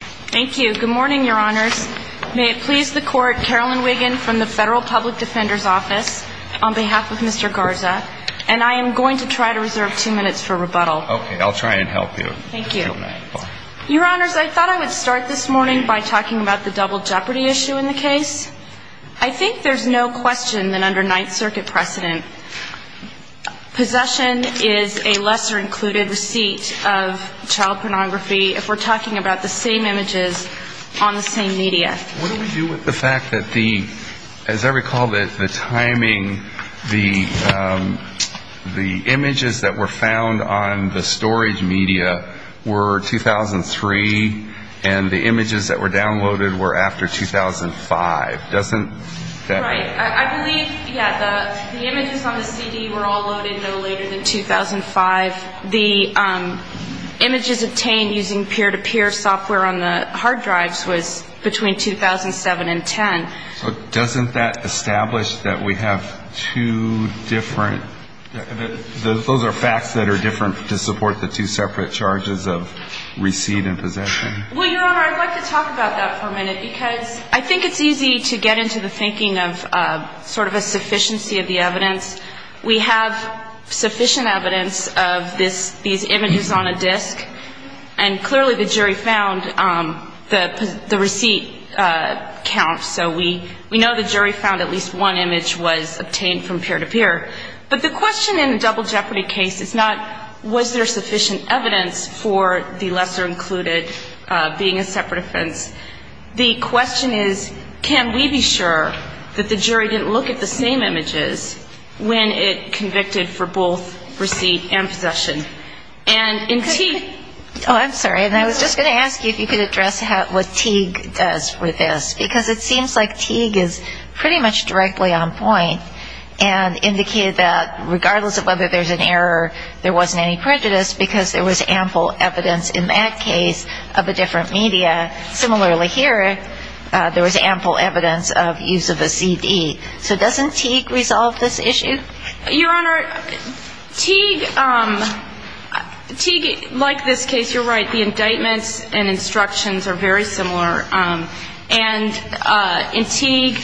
Thank you. Good morning, Your Honors. May it please the Court, Carolyn Wiggin from the Federal Public Defender's Office, on behalf of Mr. Garza, and I am going to try to reserve two minutes for rebuttal. Okay. I'll try and help you. Thank you. Your Honors, I thought I would start this morning by talking about the double jeopardy issue in the case. I think there's no question that under Ninth Circuit precedent, possession is a lesser included receipt of child pornography if we're talking about the same images on the same media. What do we do with the fact that the, as I recall, that the timing, the images that were found on the storage media were 2003, and the images that were downloaded were after 2005? Doesn't that help? Right. I believe, yeah, the images on the CD were all loaded no later than 2005. The images obtained using peer-to-peer software on the hard drives was between 2007 and 2010. So doesn't that establish that we have two different, those are facts that are different to support the two separate charges of receipt and possession? Well, Your Honor, I'd like to talk about that for a minute because I think it's easy to get into the thinking of sort of a sufficiency of the evidence. We have sufficient evidence of this, these images on a disc, and clearly the jury found the receipt count. So we know the jury found at least one image was obtained from peer-to-peer. But the question in a double jeopardy case is not was there sufficient evidence for the lesser included being a separate offense. The question is, can we be sure that the jury didn't look at the same images when it convicted for both receipt and possession? And in Teague --- Oh, I'm sorry, and I was just going to ask you if you could address what Teague does with this, because it seems like Teague is pretty much directly on point and indicated that regardless of whether there's an error, there wasn't any prejudice because there was ample evidence in that case of a different media. Similarly here, there was ample evidence of use of a CD. So doesn't Teague resolve this issue? Your Honor, Teague, like this case, you're right, the indictments and instructions are very similar. And in Teague,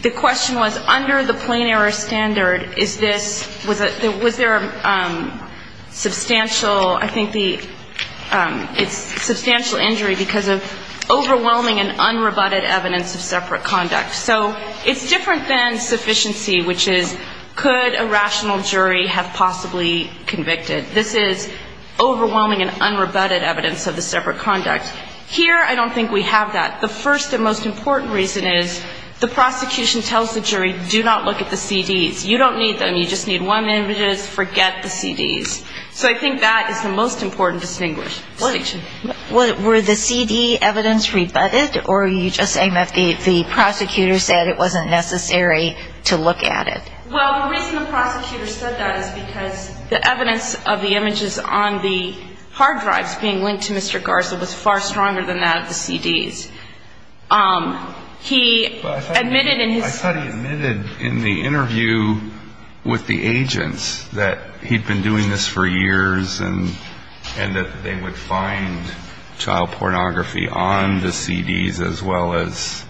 the question was under the plain error standard, is this, was there substantial, I think the substantial injury because of overwhelming and unrebutted evidence of separate conduct. So it's different than sufficiency, which is could a rational jury have possibly convicted. This is overwhelming and unrebutted evidence of the separate conduct. Here, I don't think we have that. The first and most important reason is the prosecution tells the jury, do not look at the CDs. You don't need them. You just need one image. Forget the CDs. So I think that is the most important distinction. Were the CD evidence rebutted, or are you just saying that the prosecutor said it wasn't necessary to look at it? Well, the reason the prosecutor said that is because the evidence of the images on the hard drives being linked to Mr. Garza was far stronger than that of the CDs. He admitted in his study. I thought he admitted in the interview with the agents that he'd been doing this for years and that they would find child pornography on the CDs as well as.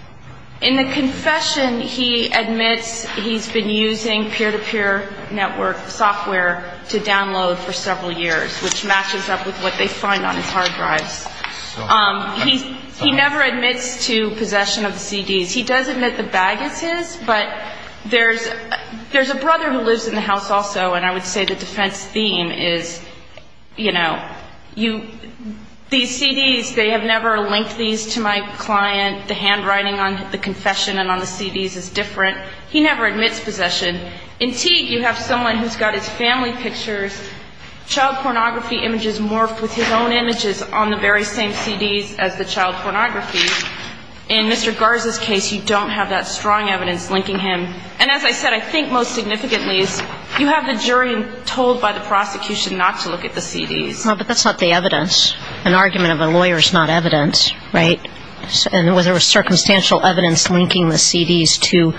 In the confession, he admits he's been using peer-to-peer network software to download for several years, which matches up with what they find on his hard drives. He never admits to possession of the CDs. He does admit the bag is his, but there's a brother who lives in the house also, and I would say the defense theme is, you know, these CDs, they have never linked these to my client. The handwriting on the confession and on the CDs is different. He never admits possession. In Teague, you have someone who's got his family pictures, child pornography images morphed with his own images on the very same CDs as the child pornography. In Mr. Garza's case, you don't have that strong evidence linking him. And as I said, I think most significantly is you have the jury told by the prosecution not to look at the CDs. Well, but that's not the evidence. An argument of a lawyer is not evidence, right? And there was circumstantial evidence linking the CDs to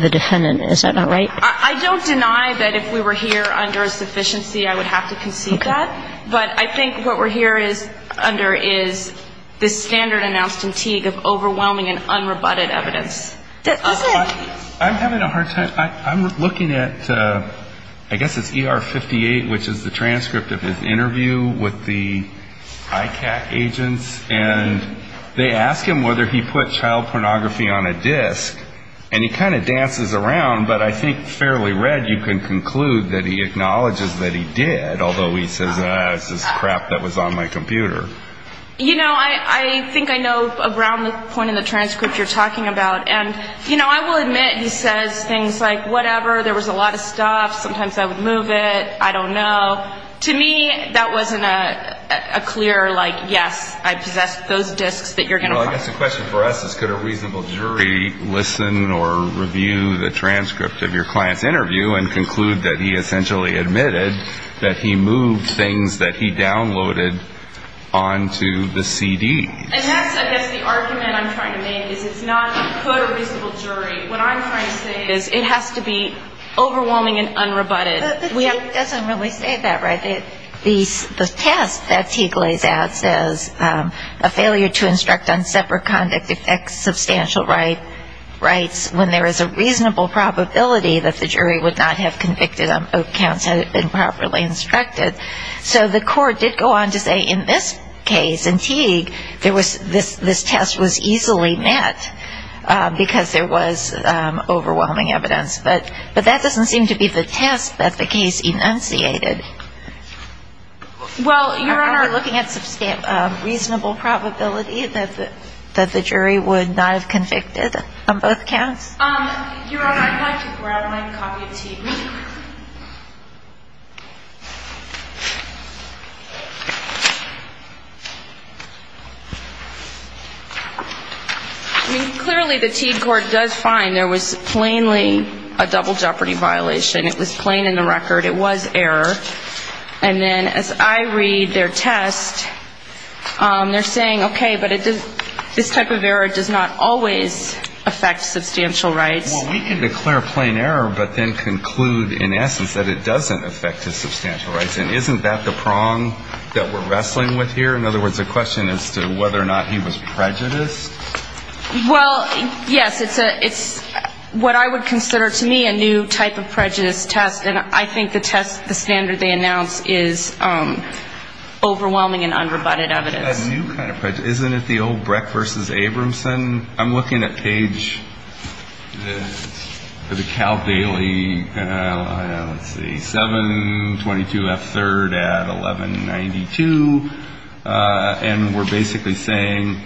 the defendant. Is that not right? I don't deny that if we were here under a sufficiency, I would have to concede that. Okay. But I think what we're here under is the standard announced in Teague of overwhelming and unrebutted evidence. I'm having a hard time. I'm looking at, I guess it's ER 58, which is the transcript of his interview with the ICAC agents, and they ask him whether he put child pornography on a disc. And he kind of dances around, but I think fairly read, you can conclude that he acknowledges that he did, although he says, ah, it's just crap that was on my computer. You know, I think I know around the point in the transcript you're talking about. And, you know, I will admit he says things like, whatever, there was a lot of stuff, sometimes I would move it, I don't know. To me, that wasn't a clear, like, yes, I possess those discs that you're going to find. Well, I guess the question for us is could a reasonable jury listen or review the transcript of your client's interview and conclude that he essentially admitted that he moved things that he downloaded onto the CD? And that's, I guess, the argument I'm trying to make, is it's not a good or reasonable jury. What I'm trying to say is it has to be overwhelming and unrebutted. But the jury doesn't really say that, right? The test that Teague lays out says a failure to instruct on separate conduct affects substantial rights when there is a reasonable probability that the jury would not have convicted on both counts had it been properly instructed. So the court did go on to say in this case, in Teague, this test was easily met because there was overwhelming evidence. But that doesn't seem to be the test that the case enunciated. Well, Your Honor, looking at reasonable probability that the jury would not have convicted on both counts? Your Honor, I'd like to grab my copy of Teague. I mean, clearly the Teague court does find there was plainly a double jeopardy violation. It was plain in the record. It was error. And then as I read their test, they're saying, okay, but this type of error does not always affect substantial rights. Well, we can declare plain error but then conclude, in essence, that it doesn't affect his substantial rights. And isn't that the prong that we're wrestling with here? In other words, a question as to whether or not he was prejudiced? Well, yes. It's what I would consider, to me, a new type of prejudice test. And I think the test, the standard they announce is overwhelming and unrebutted evidence. A new kind of prejudice. Isn't it the old Breck v. Abramson? I'm looking at page, the Caldwelli, let's see, 722F3rd at 1192. And we're basically saying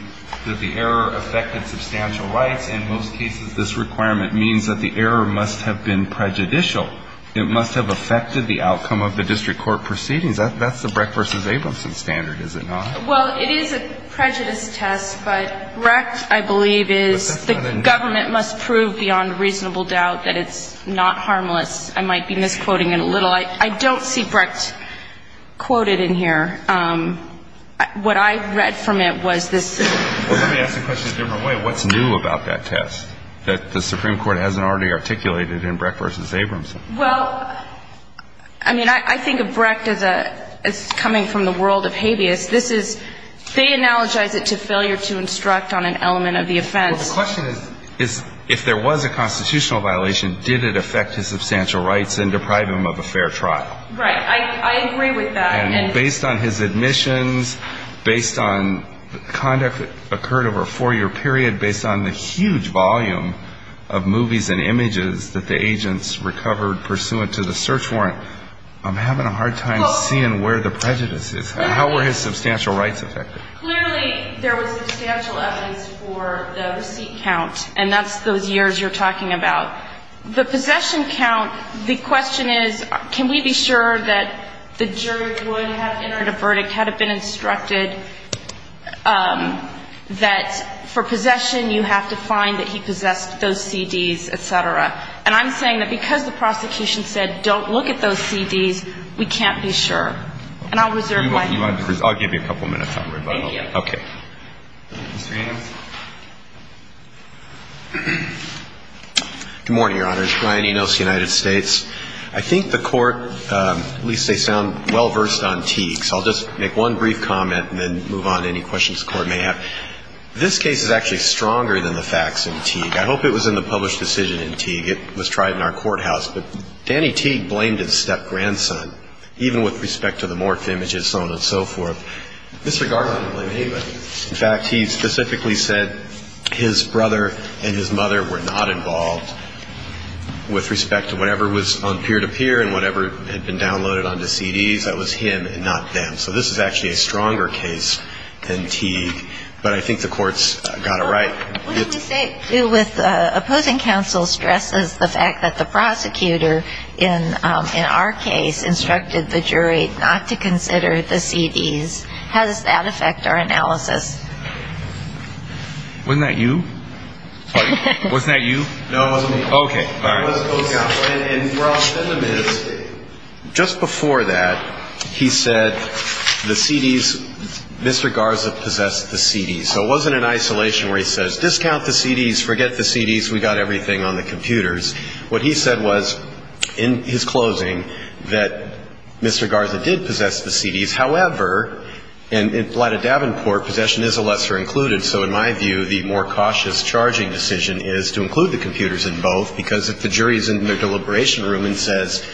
that the error affected substantial rights. In most cases, this requirement means that the error must have been prejudicial. It must have affected the outcome of the district court proceedings. That's the Breck v. Abramson standard, is it not? Well, it is a prejudice test. But Brecht, I believe, is the government must prove beyond reasonable doubt that it's not harmless. I might be misquoting it a little. I don't see Brecht quoted in here. What I read from it was this. Let me ask the question a different way. What's new about that test that the Supreme Court hasn't already articulated in Brecht v. Abramson? Well, I mean, I think of Brecht as coming from the world of habeas. This is they analogize it to failure to instruct on an element of the offense. Well, the question is, if there was a constitutional violation, did it affect his substantial rights and deprive him of a fair trial? Right. I agree with that. And based on his admissions, based on conduct that occurred over a four-year period, based on the huge volume of movies and images that the agents recovered pursuant to the search warrant, I'm having a hard time seeing where the prejudice is. How were his substantial rights affected? Clearly, there was substantial evidence for the receipt count, and that's those years you're talking about. The possession count, the question is, can we be sure that the jury would have entered a verdict, had it been instructed that for possession you have to find that he possessed those CDs, et cetera? And I'm saying that because the prosecution said, don't look at those CDs, we can't be sure. And I'll reserve my time. I'll give you a couple minutes. Thank you. Okay. Mr. Adams? Good morning, Your Honors. Brian Enos, United States. I think the Court, at least they sound well-versed on Teague. So I'll just make one brief comment and then move on to any questions the Court may have. This case is actually stronger than the facts in Teague. I hope it was in the published decision in Teague. It was tried in our courthouse. But Danny Teague blamed his step-grandson, even with respect to the morph images, so on and so forth. Mr. Garland didn't blame anybody. In fact, he specifically said his brother and his mother were not involved with respect to whatever was on peer-to-peer and whatever had been downloaded onto CDs. That was him and not them. So this is actually a stronger case than Teague. But I think the Court's got it right. What do we say with opposing counsel stresses the fact that the prosecutor, in our case, instructed the jury not to consider the CDs? How does that affect our analysis? Wasn't that you? Pardon? Wasn't that you? No, it wasn't me. Okay, all right. It wasn't both counsel. And where I'll send them is, just before that, he said the CDs, Mr. Garza possessed the CDs. So it wasn't in isolation where he says, discount the CDs, forget the CDs, we got everything on the computers. What he said was, in his closing, that Mr. Garza did possess the CDs. However, in light of Davenport, possession is a lesser included. So in my view, the more cautious charging decision is to include the computers in both, because if the jury is in their deliberation room and says,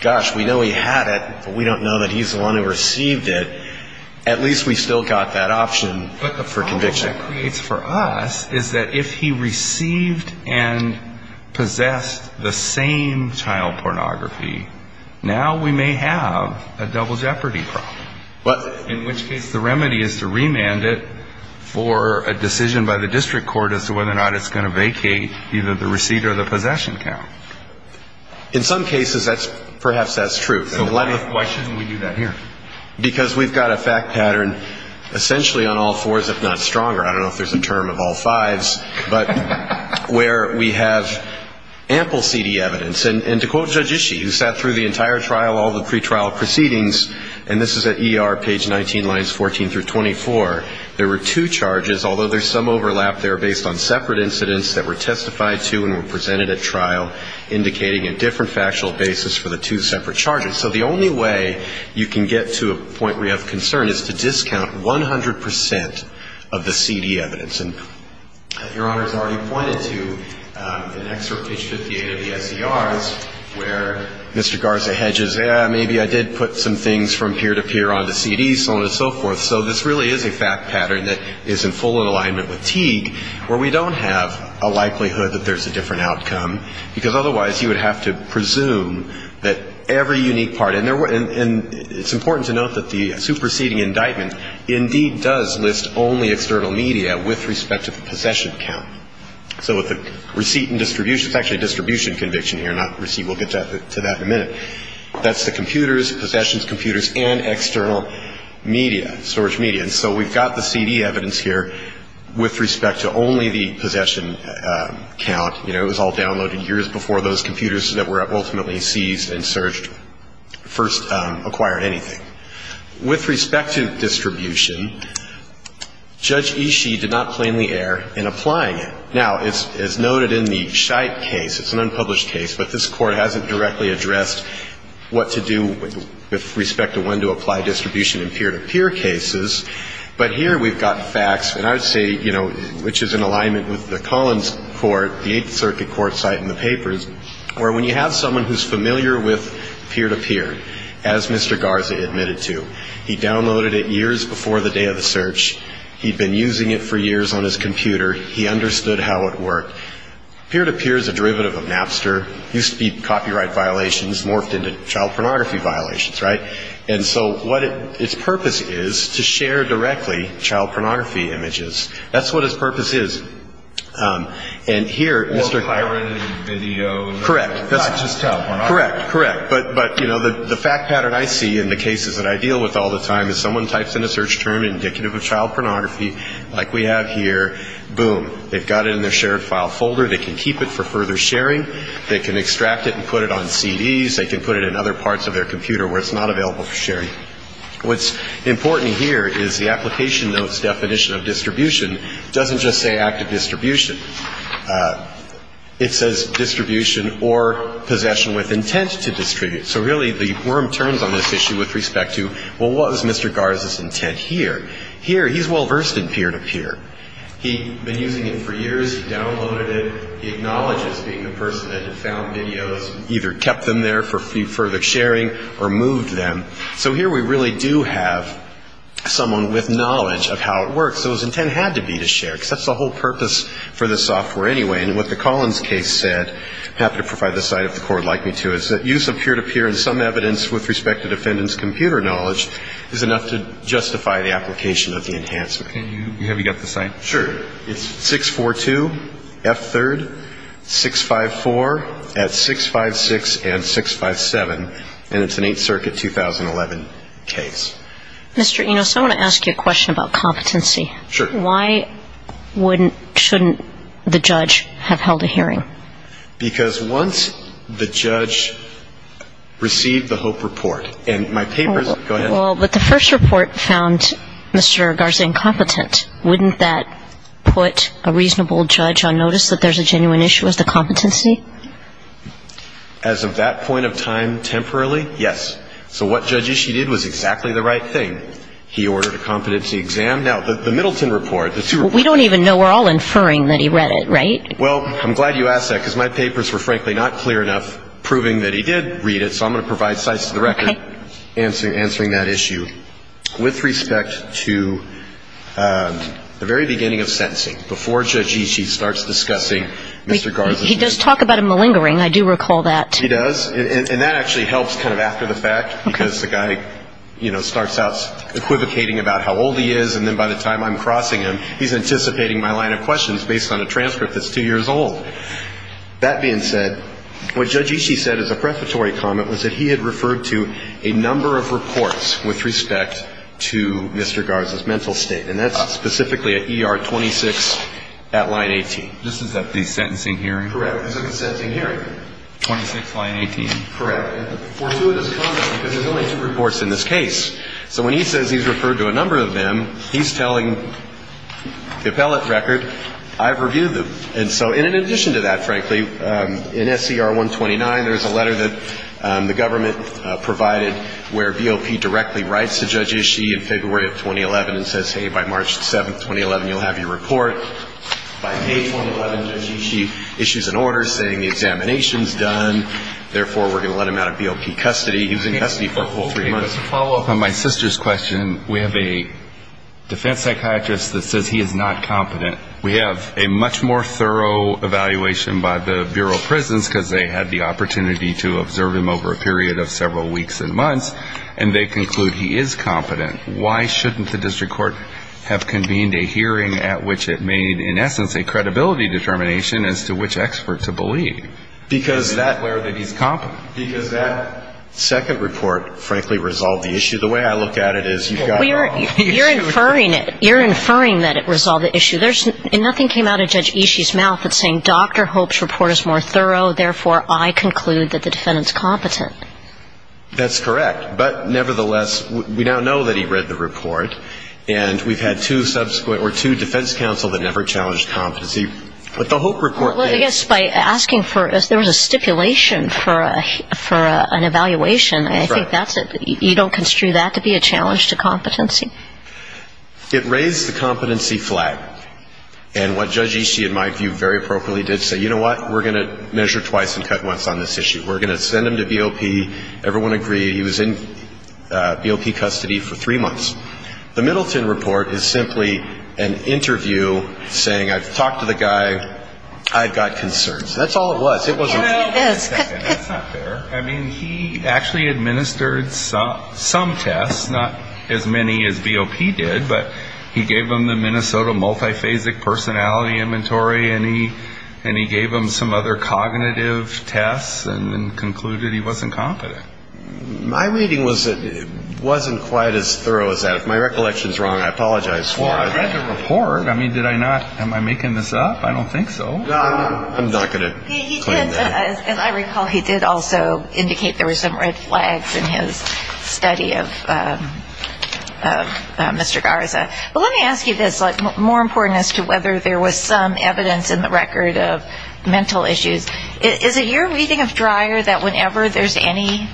gosh, we know he had it, but we don't know that he's the one who received it, at least we still got that option for conviction. What that creates for us is that if he received and possessed the same child pornography, now we may have a double jeopardy problem. What? In which case the remedy is to remand it for a decision by the district court as to whether or not it's going to vacate either the receipt or the possession count. In some cases, perhaps that's true. So why shouldn't we do that here? Because we've got a fact pattern essentially on all fours, if not stronger. I don't know if there's a term of all fives, but where we have ample CD evidence. And to quote Judge Ishii, who sat through the entire trial, all the pretrial proceedings, and this is at ER, page 19, lines 14 through 24, there were two charges, although there's some overlap there based on separate incidents that were testified to and were presented at trial indicating a different factual basis for the two separate charges. So the only way you can get to a point where you have concern is to discount 100 percent of the CD evidence. And Your Honor has already pointed to an excerpt, page 58 of the SDRs, where Mr. Garza hedges, yeah, maybe I did put some things from peer to peer on the CD, so on and so forth. So this really is a fact pattern that is in full alignment with Teague where we don't have a likelihood that there's a different outcome, because otherwise you would have to presume that every unique part, and it's important to note that the superseding indictment indeed does list only external media with respect to the possession count. So with the receipt and distribution, it's actually a distribution conviction here, not receipt. We'll get to that in a minute. That's the computers, possessions, computers, and external media, storage media. And so we've got the CD evidence here with respect to only the possession count. It was all downloaded years before those computers that were ultimately seized and searched first acquired anything. With respect to distribution, Judge Ishii did not plainly err in applying it. Now, as noted in the Scheidt case, it's an unpublished case, but this Court hasn't directly addressed what to do with respect to when to apply distribution in peer-to-peer cases. But here we've got facts, and I would say, you know, which is in alignment with the Collins court, the Eighth Circuit court site in the papers, where when you have someone who's familiar with peer-to-peer, as Mr. Garza admitted to, he downloaded it years before the day of the search, he'd been using it for years on his computer, he understood how it worked. Peer-to-peer is a derivative of Napster, used to be copyright violations, morphed into child pornography violations, right? And so what its purpose is, to share directly child pornography images. That's what its purpose is. And here, Mr. Garza. Or pirated video. Correct. Not just child pornography. Correct, correct. But, you know, the fact pattern I see in the cases that I deal with all the time is someone types in a search term indicative of child pornography, like we have here, boom. They've got it in their shared file folder. They can keep it for further sharing. They can extract it and put it on CDs. They can put it in other parts of their computer where it's not available for sharing. What's important here is the application notes definition of distribution doesn't just say active distribution. It says distribution or possession with intent to distribute. So really the worm turns on this issue with respect to, well, what was Mr. Garza's intent here? Here, he's well-versed in peer-to-peer. He'd been using it for years. He downloaded it. He acknowledges being the person that had found videos, either kept them there for further sharing or moved them. So here we really do have someone with knowledge of how it works. So his intent had to be to share because that's the whole purpose for this software anyway. And what the Collins case said, I happen to provide this side of the court, like me too, is that use of peer-to-peer and some evidence with respect to defendant's computer knowledge is enough to justify the application of the enhancement. Have you got the site? Sure. It's 642 F3rd 654 at 656 and 657, and it's an 8th Circuit 2011 case. Mr. Enos, I want to ask you a question about competency. Why wouldn't, shouldn't the judge have held a hearing? Because once the judge received the HOPE report, and my papers, go ahead. Well, but the first report found Mr. Garza incompetent. Wouldn't that put a reasonable judge on notice that there's a genuine issue with the competency? As of that point of time, temporarily, yes. So what Judge Ishii did was exactly the right thing. He ordered a competency exam. Now, the Middleton report, the two reports. We don't even know. We're all inferring that he read it, right? Well, I'm glad you asked that because my papers were frankly not clear enough proving that he did read it. So I'm going to provide sites to the record answering that issue. With respect to the very beginning of sentencing, before Judge Ishii starts discussing Mr. Garza. He does talk about a malingering. I do recall that. He does. And that actually helps kind of after the fact because the guy, you know, starts out equivocating about how old he is, and then by the time I'm crossing him, he's anticipating my line of questions based on a transcript that's two years old. That being said, what Judge Ishii said as a prefatory comment was that he had referred to a number of reports with respect to Mr. Garza's mental state. And that's specifically at ER 26 at line 18. This is at the sentencing hearing? Correct. It's at the sentencing hearing. 26 line 18. Correct. And fortuitous comment because there's only two reports in this case. So when he says he's referred to a number of them, he's telling the appellate record, I've reviewed them. And so in addition to that, frankly, in SCR 129, there's a letter that the government provided where BOP directly writes to Judge Ishii in February of 2011 and says, hey, by March 7, 2011, you'll have your report. By May 2011, Judge Ishii issues an order saying the examination's done. Therefore, we're going to let him out of BOP custody. He was in custody for a full three months. To follow up on my sister's question, we have a defense psychiatrist that says he is not competent. We have a much more thorough evaluation by the Bureau of Prisons because they had the opportunity to observe him over a period of several weeks and months, and they conclude he is competent. Why shouldn't the district court have convened a hearing at which it made, in essence, a credibility determination as to which expert to believe? Because that's where he's competent. Because that second report, frankly, resolved the issue. The way I look at it is you've got wrong issues. You're inferring it. You're inferring that it resolved the issue. And nothing came out of Judge Ishii's mouth that's saying, Dr. Hope's report is more thorough. Therefore, I conclude that the defendant's competent. That's correct. But, nevertheless, we now know that he read the report, and we've had two subsequent or two defense counsel that never challenged competency. But the Hope report did. Well, I guess by asking for it, there was a stipulation for an evaluation. I think that's it. You don't construe that to be a challenge to competency? It raised the competency flag. And what Judge Ishii, in my view, very appropriately did say, you know what? We're going to measure twice and cut once on this issue. We're going to send him to BOP. Everyone agree. He was in BOP custody for three months. The Middleton report is simply an interview saying I've talked to the guy. I've got concerns. That's all it was. It wasn't me. That's not fair. I mean, he actually administered some tests, not as many as BOP did, but he gave them the Minnesota Multiphasic Personality Inventory, and he gave them some other cognitive tests and concluded he wasn't competent. My reading was that it wasn't quite as thorough as that. If my recollection is wrong, I apologize for it. Well, I read the report. I mean, did I not? Am I making this up? I don't think so. I'm not going to claim that. Okay, he did, as I recall, he did also indicate there were some red flags in his study of Mr. Garza. But let me ask you this, more important as to whether there was some evidence in the record of mental issues. Is it your reading of Dreyer that whenever there's any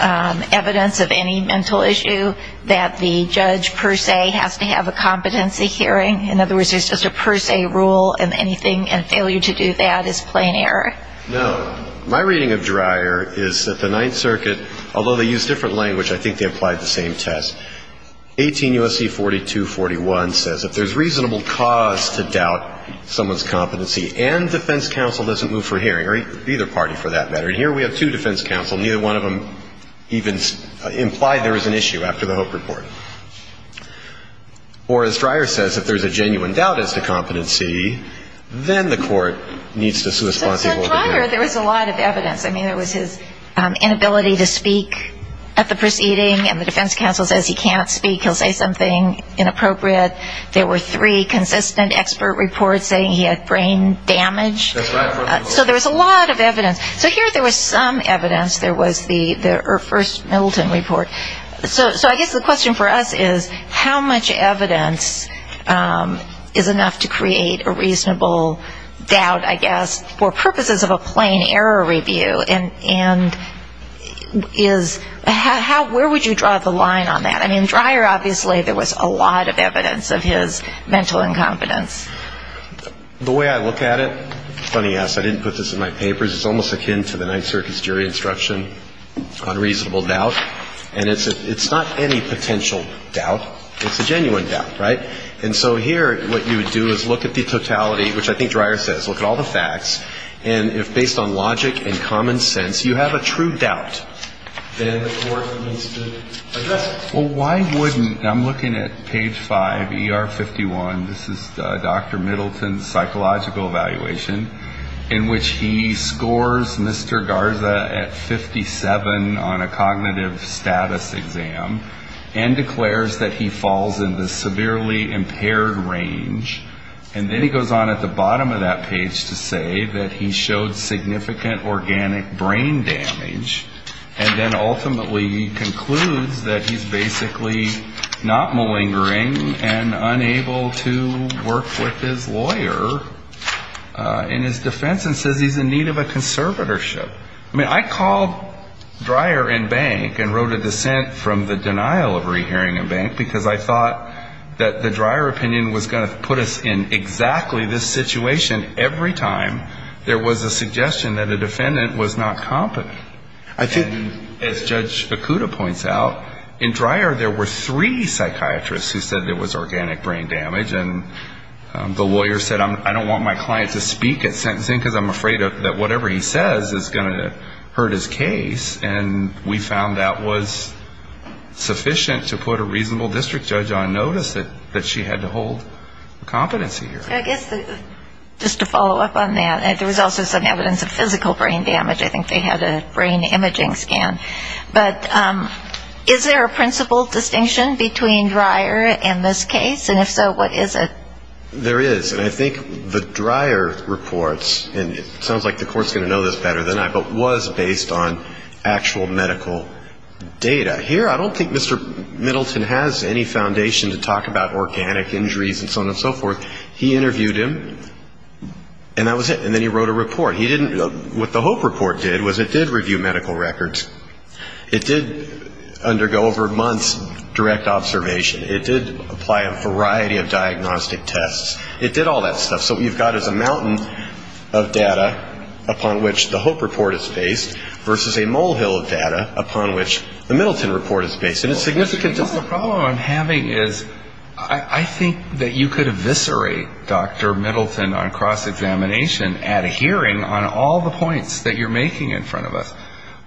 evidence of any mental issue, that the judge per se has to have a competency hearing? In other words, there's just a per se rule, and anything and failure to do that is plain error? No. My reading of Dreyer is that the Ninth Circuit, although they use different language, I think they applied the same test. 18 U.S.C. 4241 says if there's reasonable cause to doubt someone's competency and defense counsel doesn't move for hearing, or either party for that matter, and here we have two defense counsel, neither one of them even implied there was an issue after the Hope Report. Or as Dreyer says, if there's a genuine doubt as to competency, then the court needs to be responsible for hearing. So in Dreyer there was a lot of evidence. I mean, there was his inability to speak at the proceeding, and the defense counsel says he can't speak, he'll say something inappropriate. There were three consistent expert reports saying he had brain damage. That's right. So there was a lot of evidence. So here there was some evidence. There was the first Middleton report. So I guess the question for us is, how much evidence is enough to create a reasonable doubt, I guess, for purposes of a plain error review? And where would you draw the line on that? I mean, Dreyer, obviously, there was a lot of evidence of his mental incompetence. The way I look at it, funny ask, I didn't put this in my papers, it's almost akin to the Ninth Circuit's jury instruction on reasonable doubt. And it's not any potential doubt, it's a genuine doubt, right? And so here what you would do is look at the totality, which I think Dreyer says, look at all the facts, and if based on logic and common sense you have a true doubt, then the court needs to address it. Well, why wouldn't, I'm looking at page 5, ER 51, this is Dr. Middleton's psychological evaluation, in which he scores Mr. Garza at 57 on a cognitive status exam and declares that he falls in the severely impaired range. And then he goes on at the bottom of that page to say that he showed significant organic brain damage. And then ultimately he concludes that he's basically not malingering and unable to work with his lawyer in his defense and says he's in need of a conservatorship. I mean, I called Dreyer in bank and wrote a dissent from the denial of re-hearing in bank because I thought that the Dreyer opinion was going to put us in exactly this situation every time there was a suggestion that a defendant was not competent. And as Judge Fukuda points out, in Dreyer there were three psychiatrists who said there was organic brain damage and the lawyer said I don't want my client to speak at sentencing because I'm afraid that whatever he says is going to hurt his case. And we found that was sufficient to put a reasonable district judge on notice that she had to hold competency here. So I guess just to follow up on that, there was also some evidence of physical brain damage. I think they had a brain imaging scan. But is there a principle distinction between Dreyer and this case? And if so, what is it? There is. And I think the Dreyer reports, and it sounds like the court's going to know this better than I, but was based on actual medical data. Here I don't think Mr. Middleton has any foundation to talk about organic injuries and so on and so forth. He interviewed him and that was it. And then he wrote a report. What the Hope report did was it did review medical records. It did undergo over months direct observation. It did apply a variety of diagnostic tests. It did all that stuff. So what you've got is a mountain of data upon which the Hope report is based versus a molehill of data upon which the Middleton report is based. And it's significant. The problem I'm having is I think that you could eviscerate Dr. Middleton on cross examination at a hearing on all the points that you're making in front of us.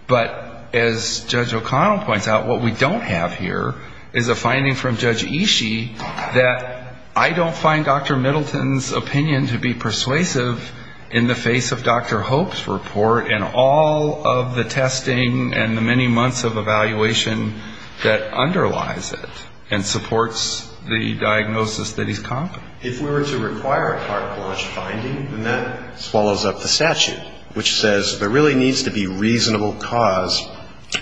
But as Judge O'Connell points out, what we don't have here is a finding from Judge Ishii that I don't find Dr. Middleton's opinion to be persuasive in the face of Dr. Hope's report and all of the testing and the many months of evaluation that underlies it and supports the diagnosis that he's confident. If we were to require a cartilage finding, then that swallows up the statute, which says there really needs to be reasonable cause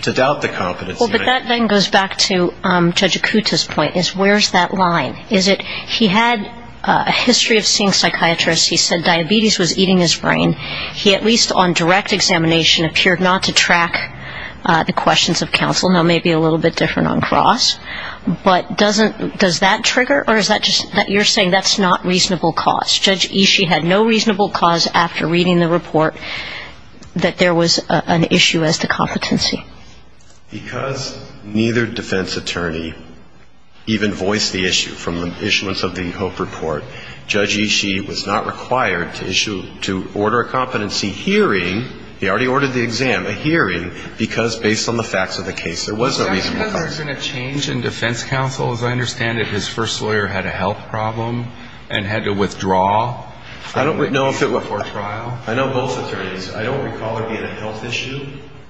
to doubt the competency. Well, but that then goes back to Judge Ikuta's point is where's that line? Is it he had a history of seeing psychiatrists. He said diabetes was eating his brain. He, at least on direct examination, appeared not to track the questions of counsel. Now, maybe a little bit different on cross. But does that trigger or is that just that you're saying that's not reasonable cause? Judge Ishii had no reasonable cause after reading the report that there was an issue as to competency. Because neither defense attorney even voiced the issue from the issuance of the Hope report, Judge Ishii was not required to order a competency hearing. He already ordered the exam, a hearing, because based on the facts of the case, there was no reasonable cause. Has there been a change in defense counsel? As I understand it, his first lawyer had a health problem and had to withdraw. I don't know if it was for trial. I know both attorneys. I don't recall there being a health issue.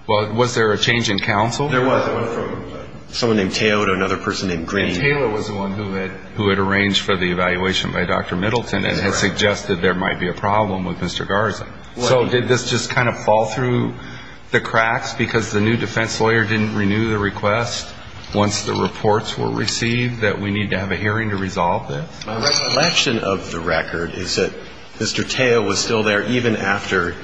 Well, was there a change in counsel? There was. It went from someone named Tao to another person named Green. And Taylor was the one who had arranged for the evaluation by Dr. Middleton and had suggested there might be a problem with Mr. Garza. So did this just kind of fall through the cracks because the new defense lawyer didn't renew the request once the reports were received that we need to have a hearing to resolve this? My recollection of the record is that Mr. Tao was still there even after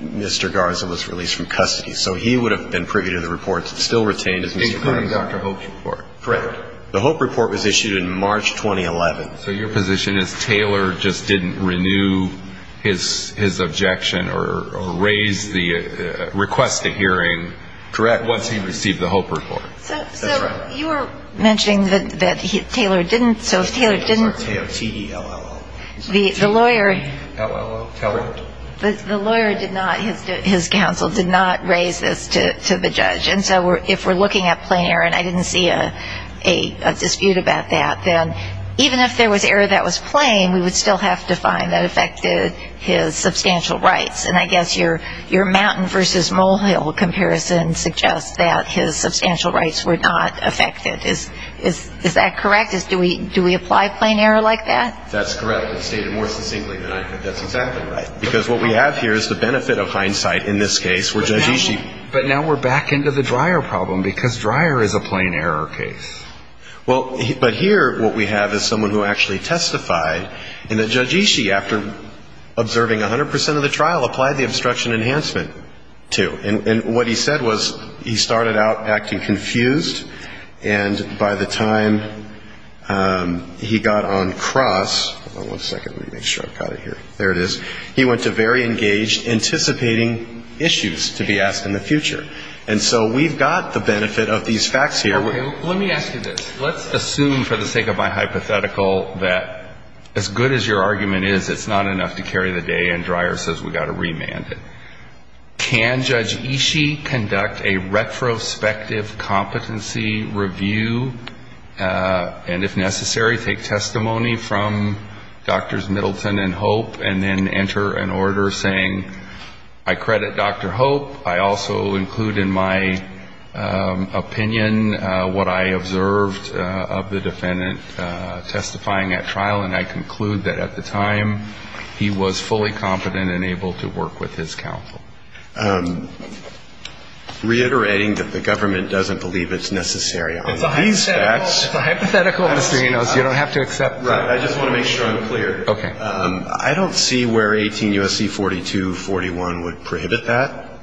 Mr. Garza was released from custody. So he would have been privy to the reports and still retained as Mr. Garza. Including Dr. Hope's report. Correct. The Hope report was issued in March 2011. So your position is Taylor just didn't renew his objection or raise the request to hearing once he received the Hope report. That's right. So you were mentioning that Taylor didn't. So if Taylor didn't. T-O-T-E-L-L-O. The lawyer. T-O-T-E-L-L-O. Taylor. The lawyer did not, his counsel did not raise this to the judge. And so if we're looking at plain error, and I didn't see a dispute about that, then even if there was error that was plain, we would still have to find that affected his substantial rights. And I guess your Mountain v. Mulhill comparison suggests that his substantial rights were not affected. Is that correct? Do we apply plain error like that? That's correct. It's stated more succinctly than I could. That's exactly right. Because what we have here is the benefit of hindsight in this case. But now we're back into the Dreyer problem, because Dreyer is a plain error case. Well, but here what we have is someone who actually testified, and that Judge Ishii, after observing 100 percent of the trial, applied the obstruction enhancement to. And what he said was he started out acting confused, and by the time he got on cross, hold on one second, let me make sure I've got it here, there it is, he went to very engaged, anticipating issues to be asked in the future. And so we've got the benefit of these facts here. Let me ask you this. Let's assume for the sake of my hypothetical that as good as your argument is, it's not enough to carry the day, and Dreyer says we've got to remand it. Can Judge Ishii conduct a retrospective competency review, and if necessary, take testimony from Drs. Middleton and Hope, and then enter an order saying I credit Dr. Hope. I also include in my opinion what I observed of the defendant testifying at trial, and I conclude that at the time he was fully competent and able to work with his counsel. Reiterating that the government doesn't believe it's necessary on these facts. It's a hypothetical. It's a hypothetical, Mr. Enos. You don't have to accept that. Right. I just want to make sure I'm clear. Okay. I don't see where 18 U.S.C. 4241 would prohibit that,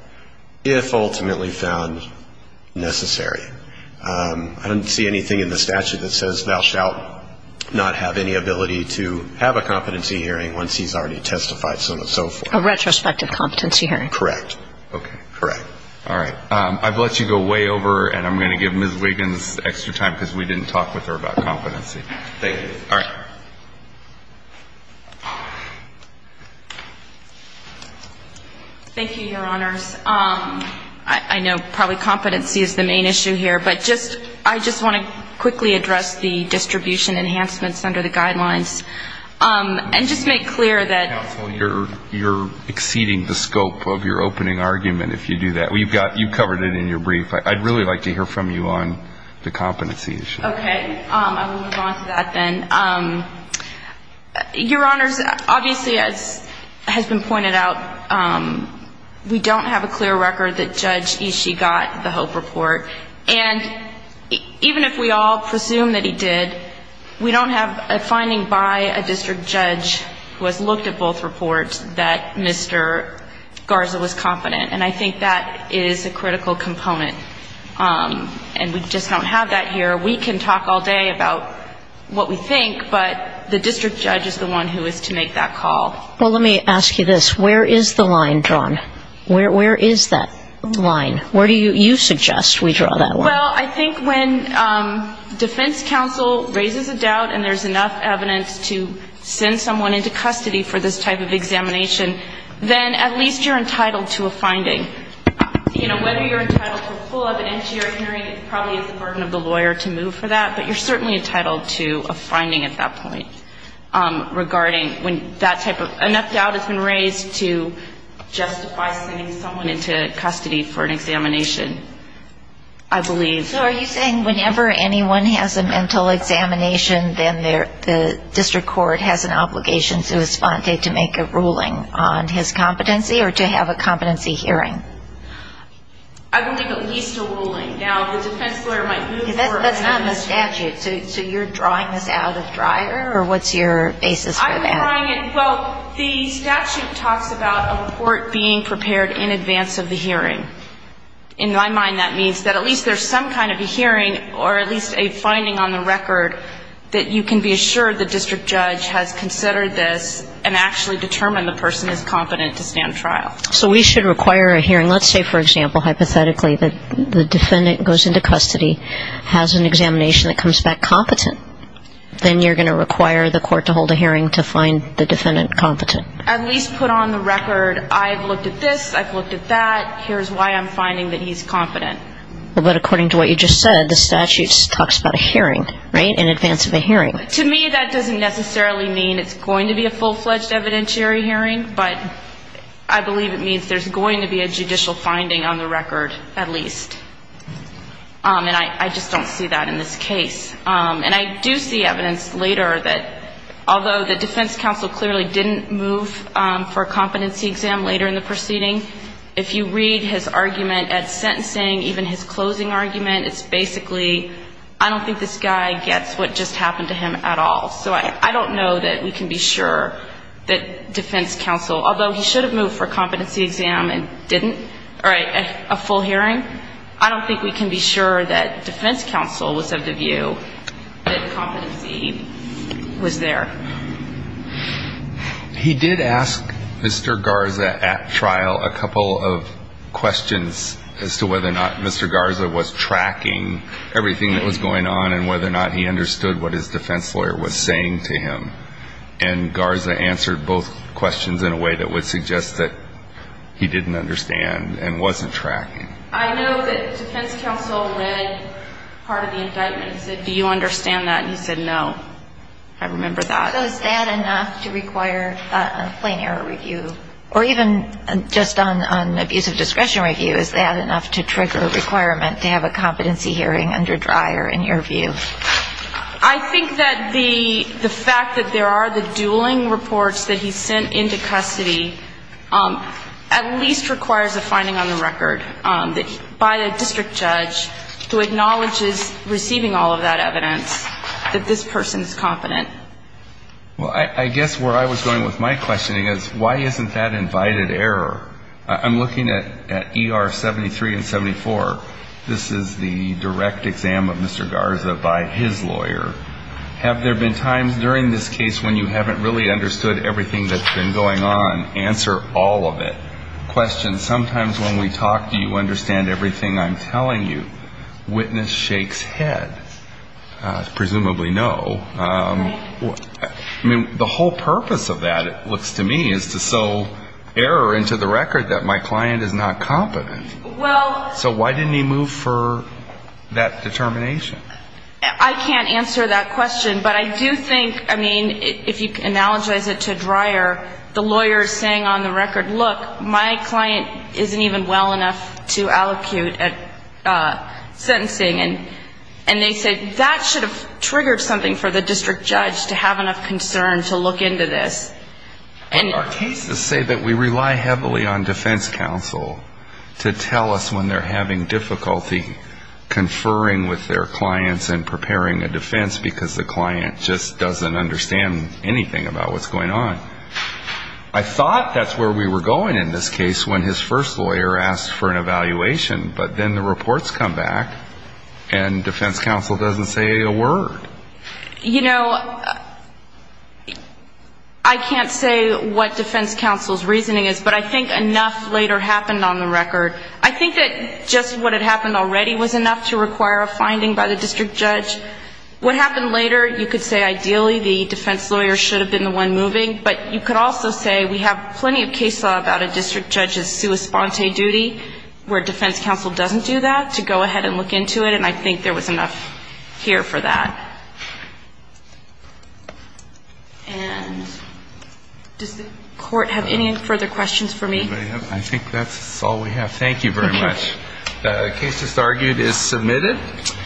if ultimately found necessary. I don't see anything in the statute that says thou shalt not have any ability to have a competency hearing once he's already testified so and so forth. A retrospective competency hearing. Correct. Okay. Correct. All right. I've let you go way over, and I'm going to give Ms. Wiggins extra time because we didn't talk with her about competency. Thank you. All right. Thank you, Your Honors. I know probably competency is the main issue here, but I just want to quickly address the distribution enhancements under the guidelines and just make clear that you're exceeding the scope of your opening argument, if you do that. You've covered it in your brief. I'd really like to hear from you on the competency issue. Okay. I will move on to that then. Your Honors, obviously, as has been pointed out, we don't have a clear record that Judge Ishii got the HOPE report. And even if we all presume that he did, we don't have a finding by a district judge who has looked at both reports that Mr. Garza was competent. And I think that is a critical component. And we just don't have that here. We can talk all day about what we think, but the district judge is the one who is to make that call. Well, let me ask you this. Where is the line drawn? Where is that line? Where do you suggest we draw that line? Well, I think when defense counsel raises a doubt and there's enough evidence to send someone into custody for this type of examination, then at least you're entitled to a finding. You know, whether you're entitled to a full evidentiary hearing, it probably is the burden of the lawyer to move for that, but you're certainly entitled to a finding at that point regarding when that type of ‑‑ I believe. So are you saying whenever anyone has a mental examination, then the district court has an obligation to respond to make a ruling on his competency or to have a competency hearing? I believe at least a ruling. Now, the defense lawyer might move for evidence. That's not in the statute. So you're drawing this out of dryer, or what's your basis for that? Well, the statute talks about a report being prepared in advance of the hearing. In my mind, that means that at least there's some kind of a hearing or at least a finding on the record that you can be assured the district judge has considered this and actually determined the person is competent to stand trial. So we should require a hearing. Let's say, for example, hypothetically, that the defendant goes into custody, has an examination that comes back competent. Then you're going to require the court to hold a hearing to find the defendant competent. At least put on the record, I've looked at this, I've looked at that, here's why I'm finding that he's competent. Well, but according to what you just said, the statute talks about a hearing, right, in advance of a hearing. To me, that doesn't necessarily mean it's going to be a full‑fledged evidentiary hearing, but I believe it means there's going to be a judicial finding on the record at least. And I just don't see that in this case. And I do see evidence later that although the defense counsel clearly didn't move for a competency exam later in the proceeding, if you read his argument at sentencing, even his closing argument, it's basically I don't think this guy gets what just happened to him at all. So I don't know that we can be sure that defense counsel, although he should have moved for a competency exam and didn't, or a full hearing, I don't think we can be sure that defense counsel was of the view that competency was there. He did ask Mr. Garza at trial a couple of questions as to whether or not Mr. Garza was tracking everything that was going on and whether or not he understood what his defense lawyer was saying to him. And Garza answered both questions in a way that would suggest that he didn't understand and wasn't tracking. I know that defense counsel read part of the indictment and said, do you understand that? And he said no. I remember that. So is that enough to require a plain error review? Or even just on abusive discretion review, is that enough to trigger a requirement to have a competency hearing under Dreyer in your view? I think that the fact that there are the dueling reports that he sent into custody at least requires a finding on the record. By a district judge who acknowledges receiving all of that evidence that this person is competent. Well, I guess where I was going with my questioning is why isn't that invited error? I'm looking at ER 73 and 74. This is the direct exam of Mr. Garza by his lawyer. Have there been times during this case when you haven't really understood everything that's been going on? Answer all of it. Question. Sometimes when we talk, do you understand everything I'm telling you? Witness shakes head. Presumably no. I mean, the whole purpose of that, it looks to me, is to sell error into the record that my client is not competent. So why didn't he move for that determination? I can't answer that question, but I do think, I mean, if you analogize it to Dreyer, the lawyer is saying on the record, look, my client isn't even well enough to allocute at sentencing. And they say that should have triggered something for the district judge to have enough concern to look into this. Our cases say that we rely heavily on defense counsel to tell us when they're having difficulty conferring with their clients and preparing a defense because the client just doesn't understand anything about what's going on. I thought that's where we were going in this case when his first lawyer asked for an evaluation, but then the reports come back and defense counsel doesn't say a word. You know, I can't say what defense counsel's reasoning is, but I think enough later happened on the record. I think that just what had happened already was enough to require a finding by the district judge. What happened later, you could say ideally the defense lawyer should have been the one moving, but you could also say we have plenty of case law about a district judge's sua sponte duty where defense counsel doesn't do that to go ahead and look into it, and I think there was enough here for that. And does the Court have any further questions for me? I think that's all we have. Thank you very much. The case just argued is submitted.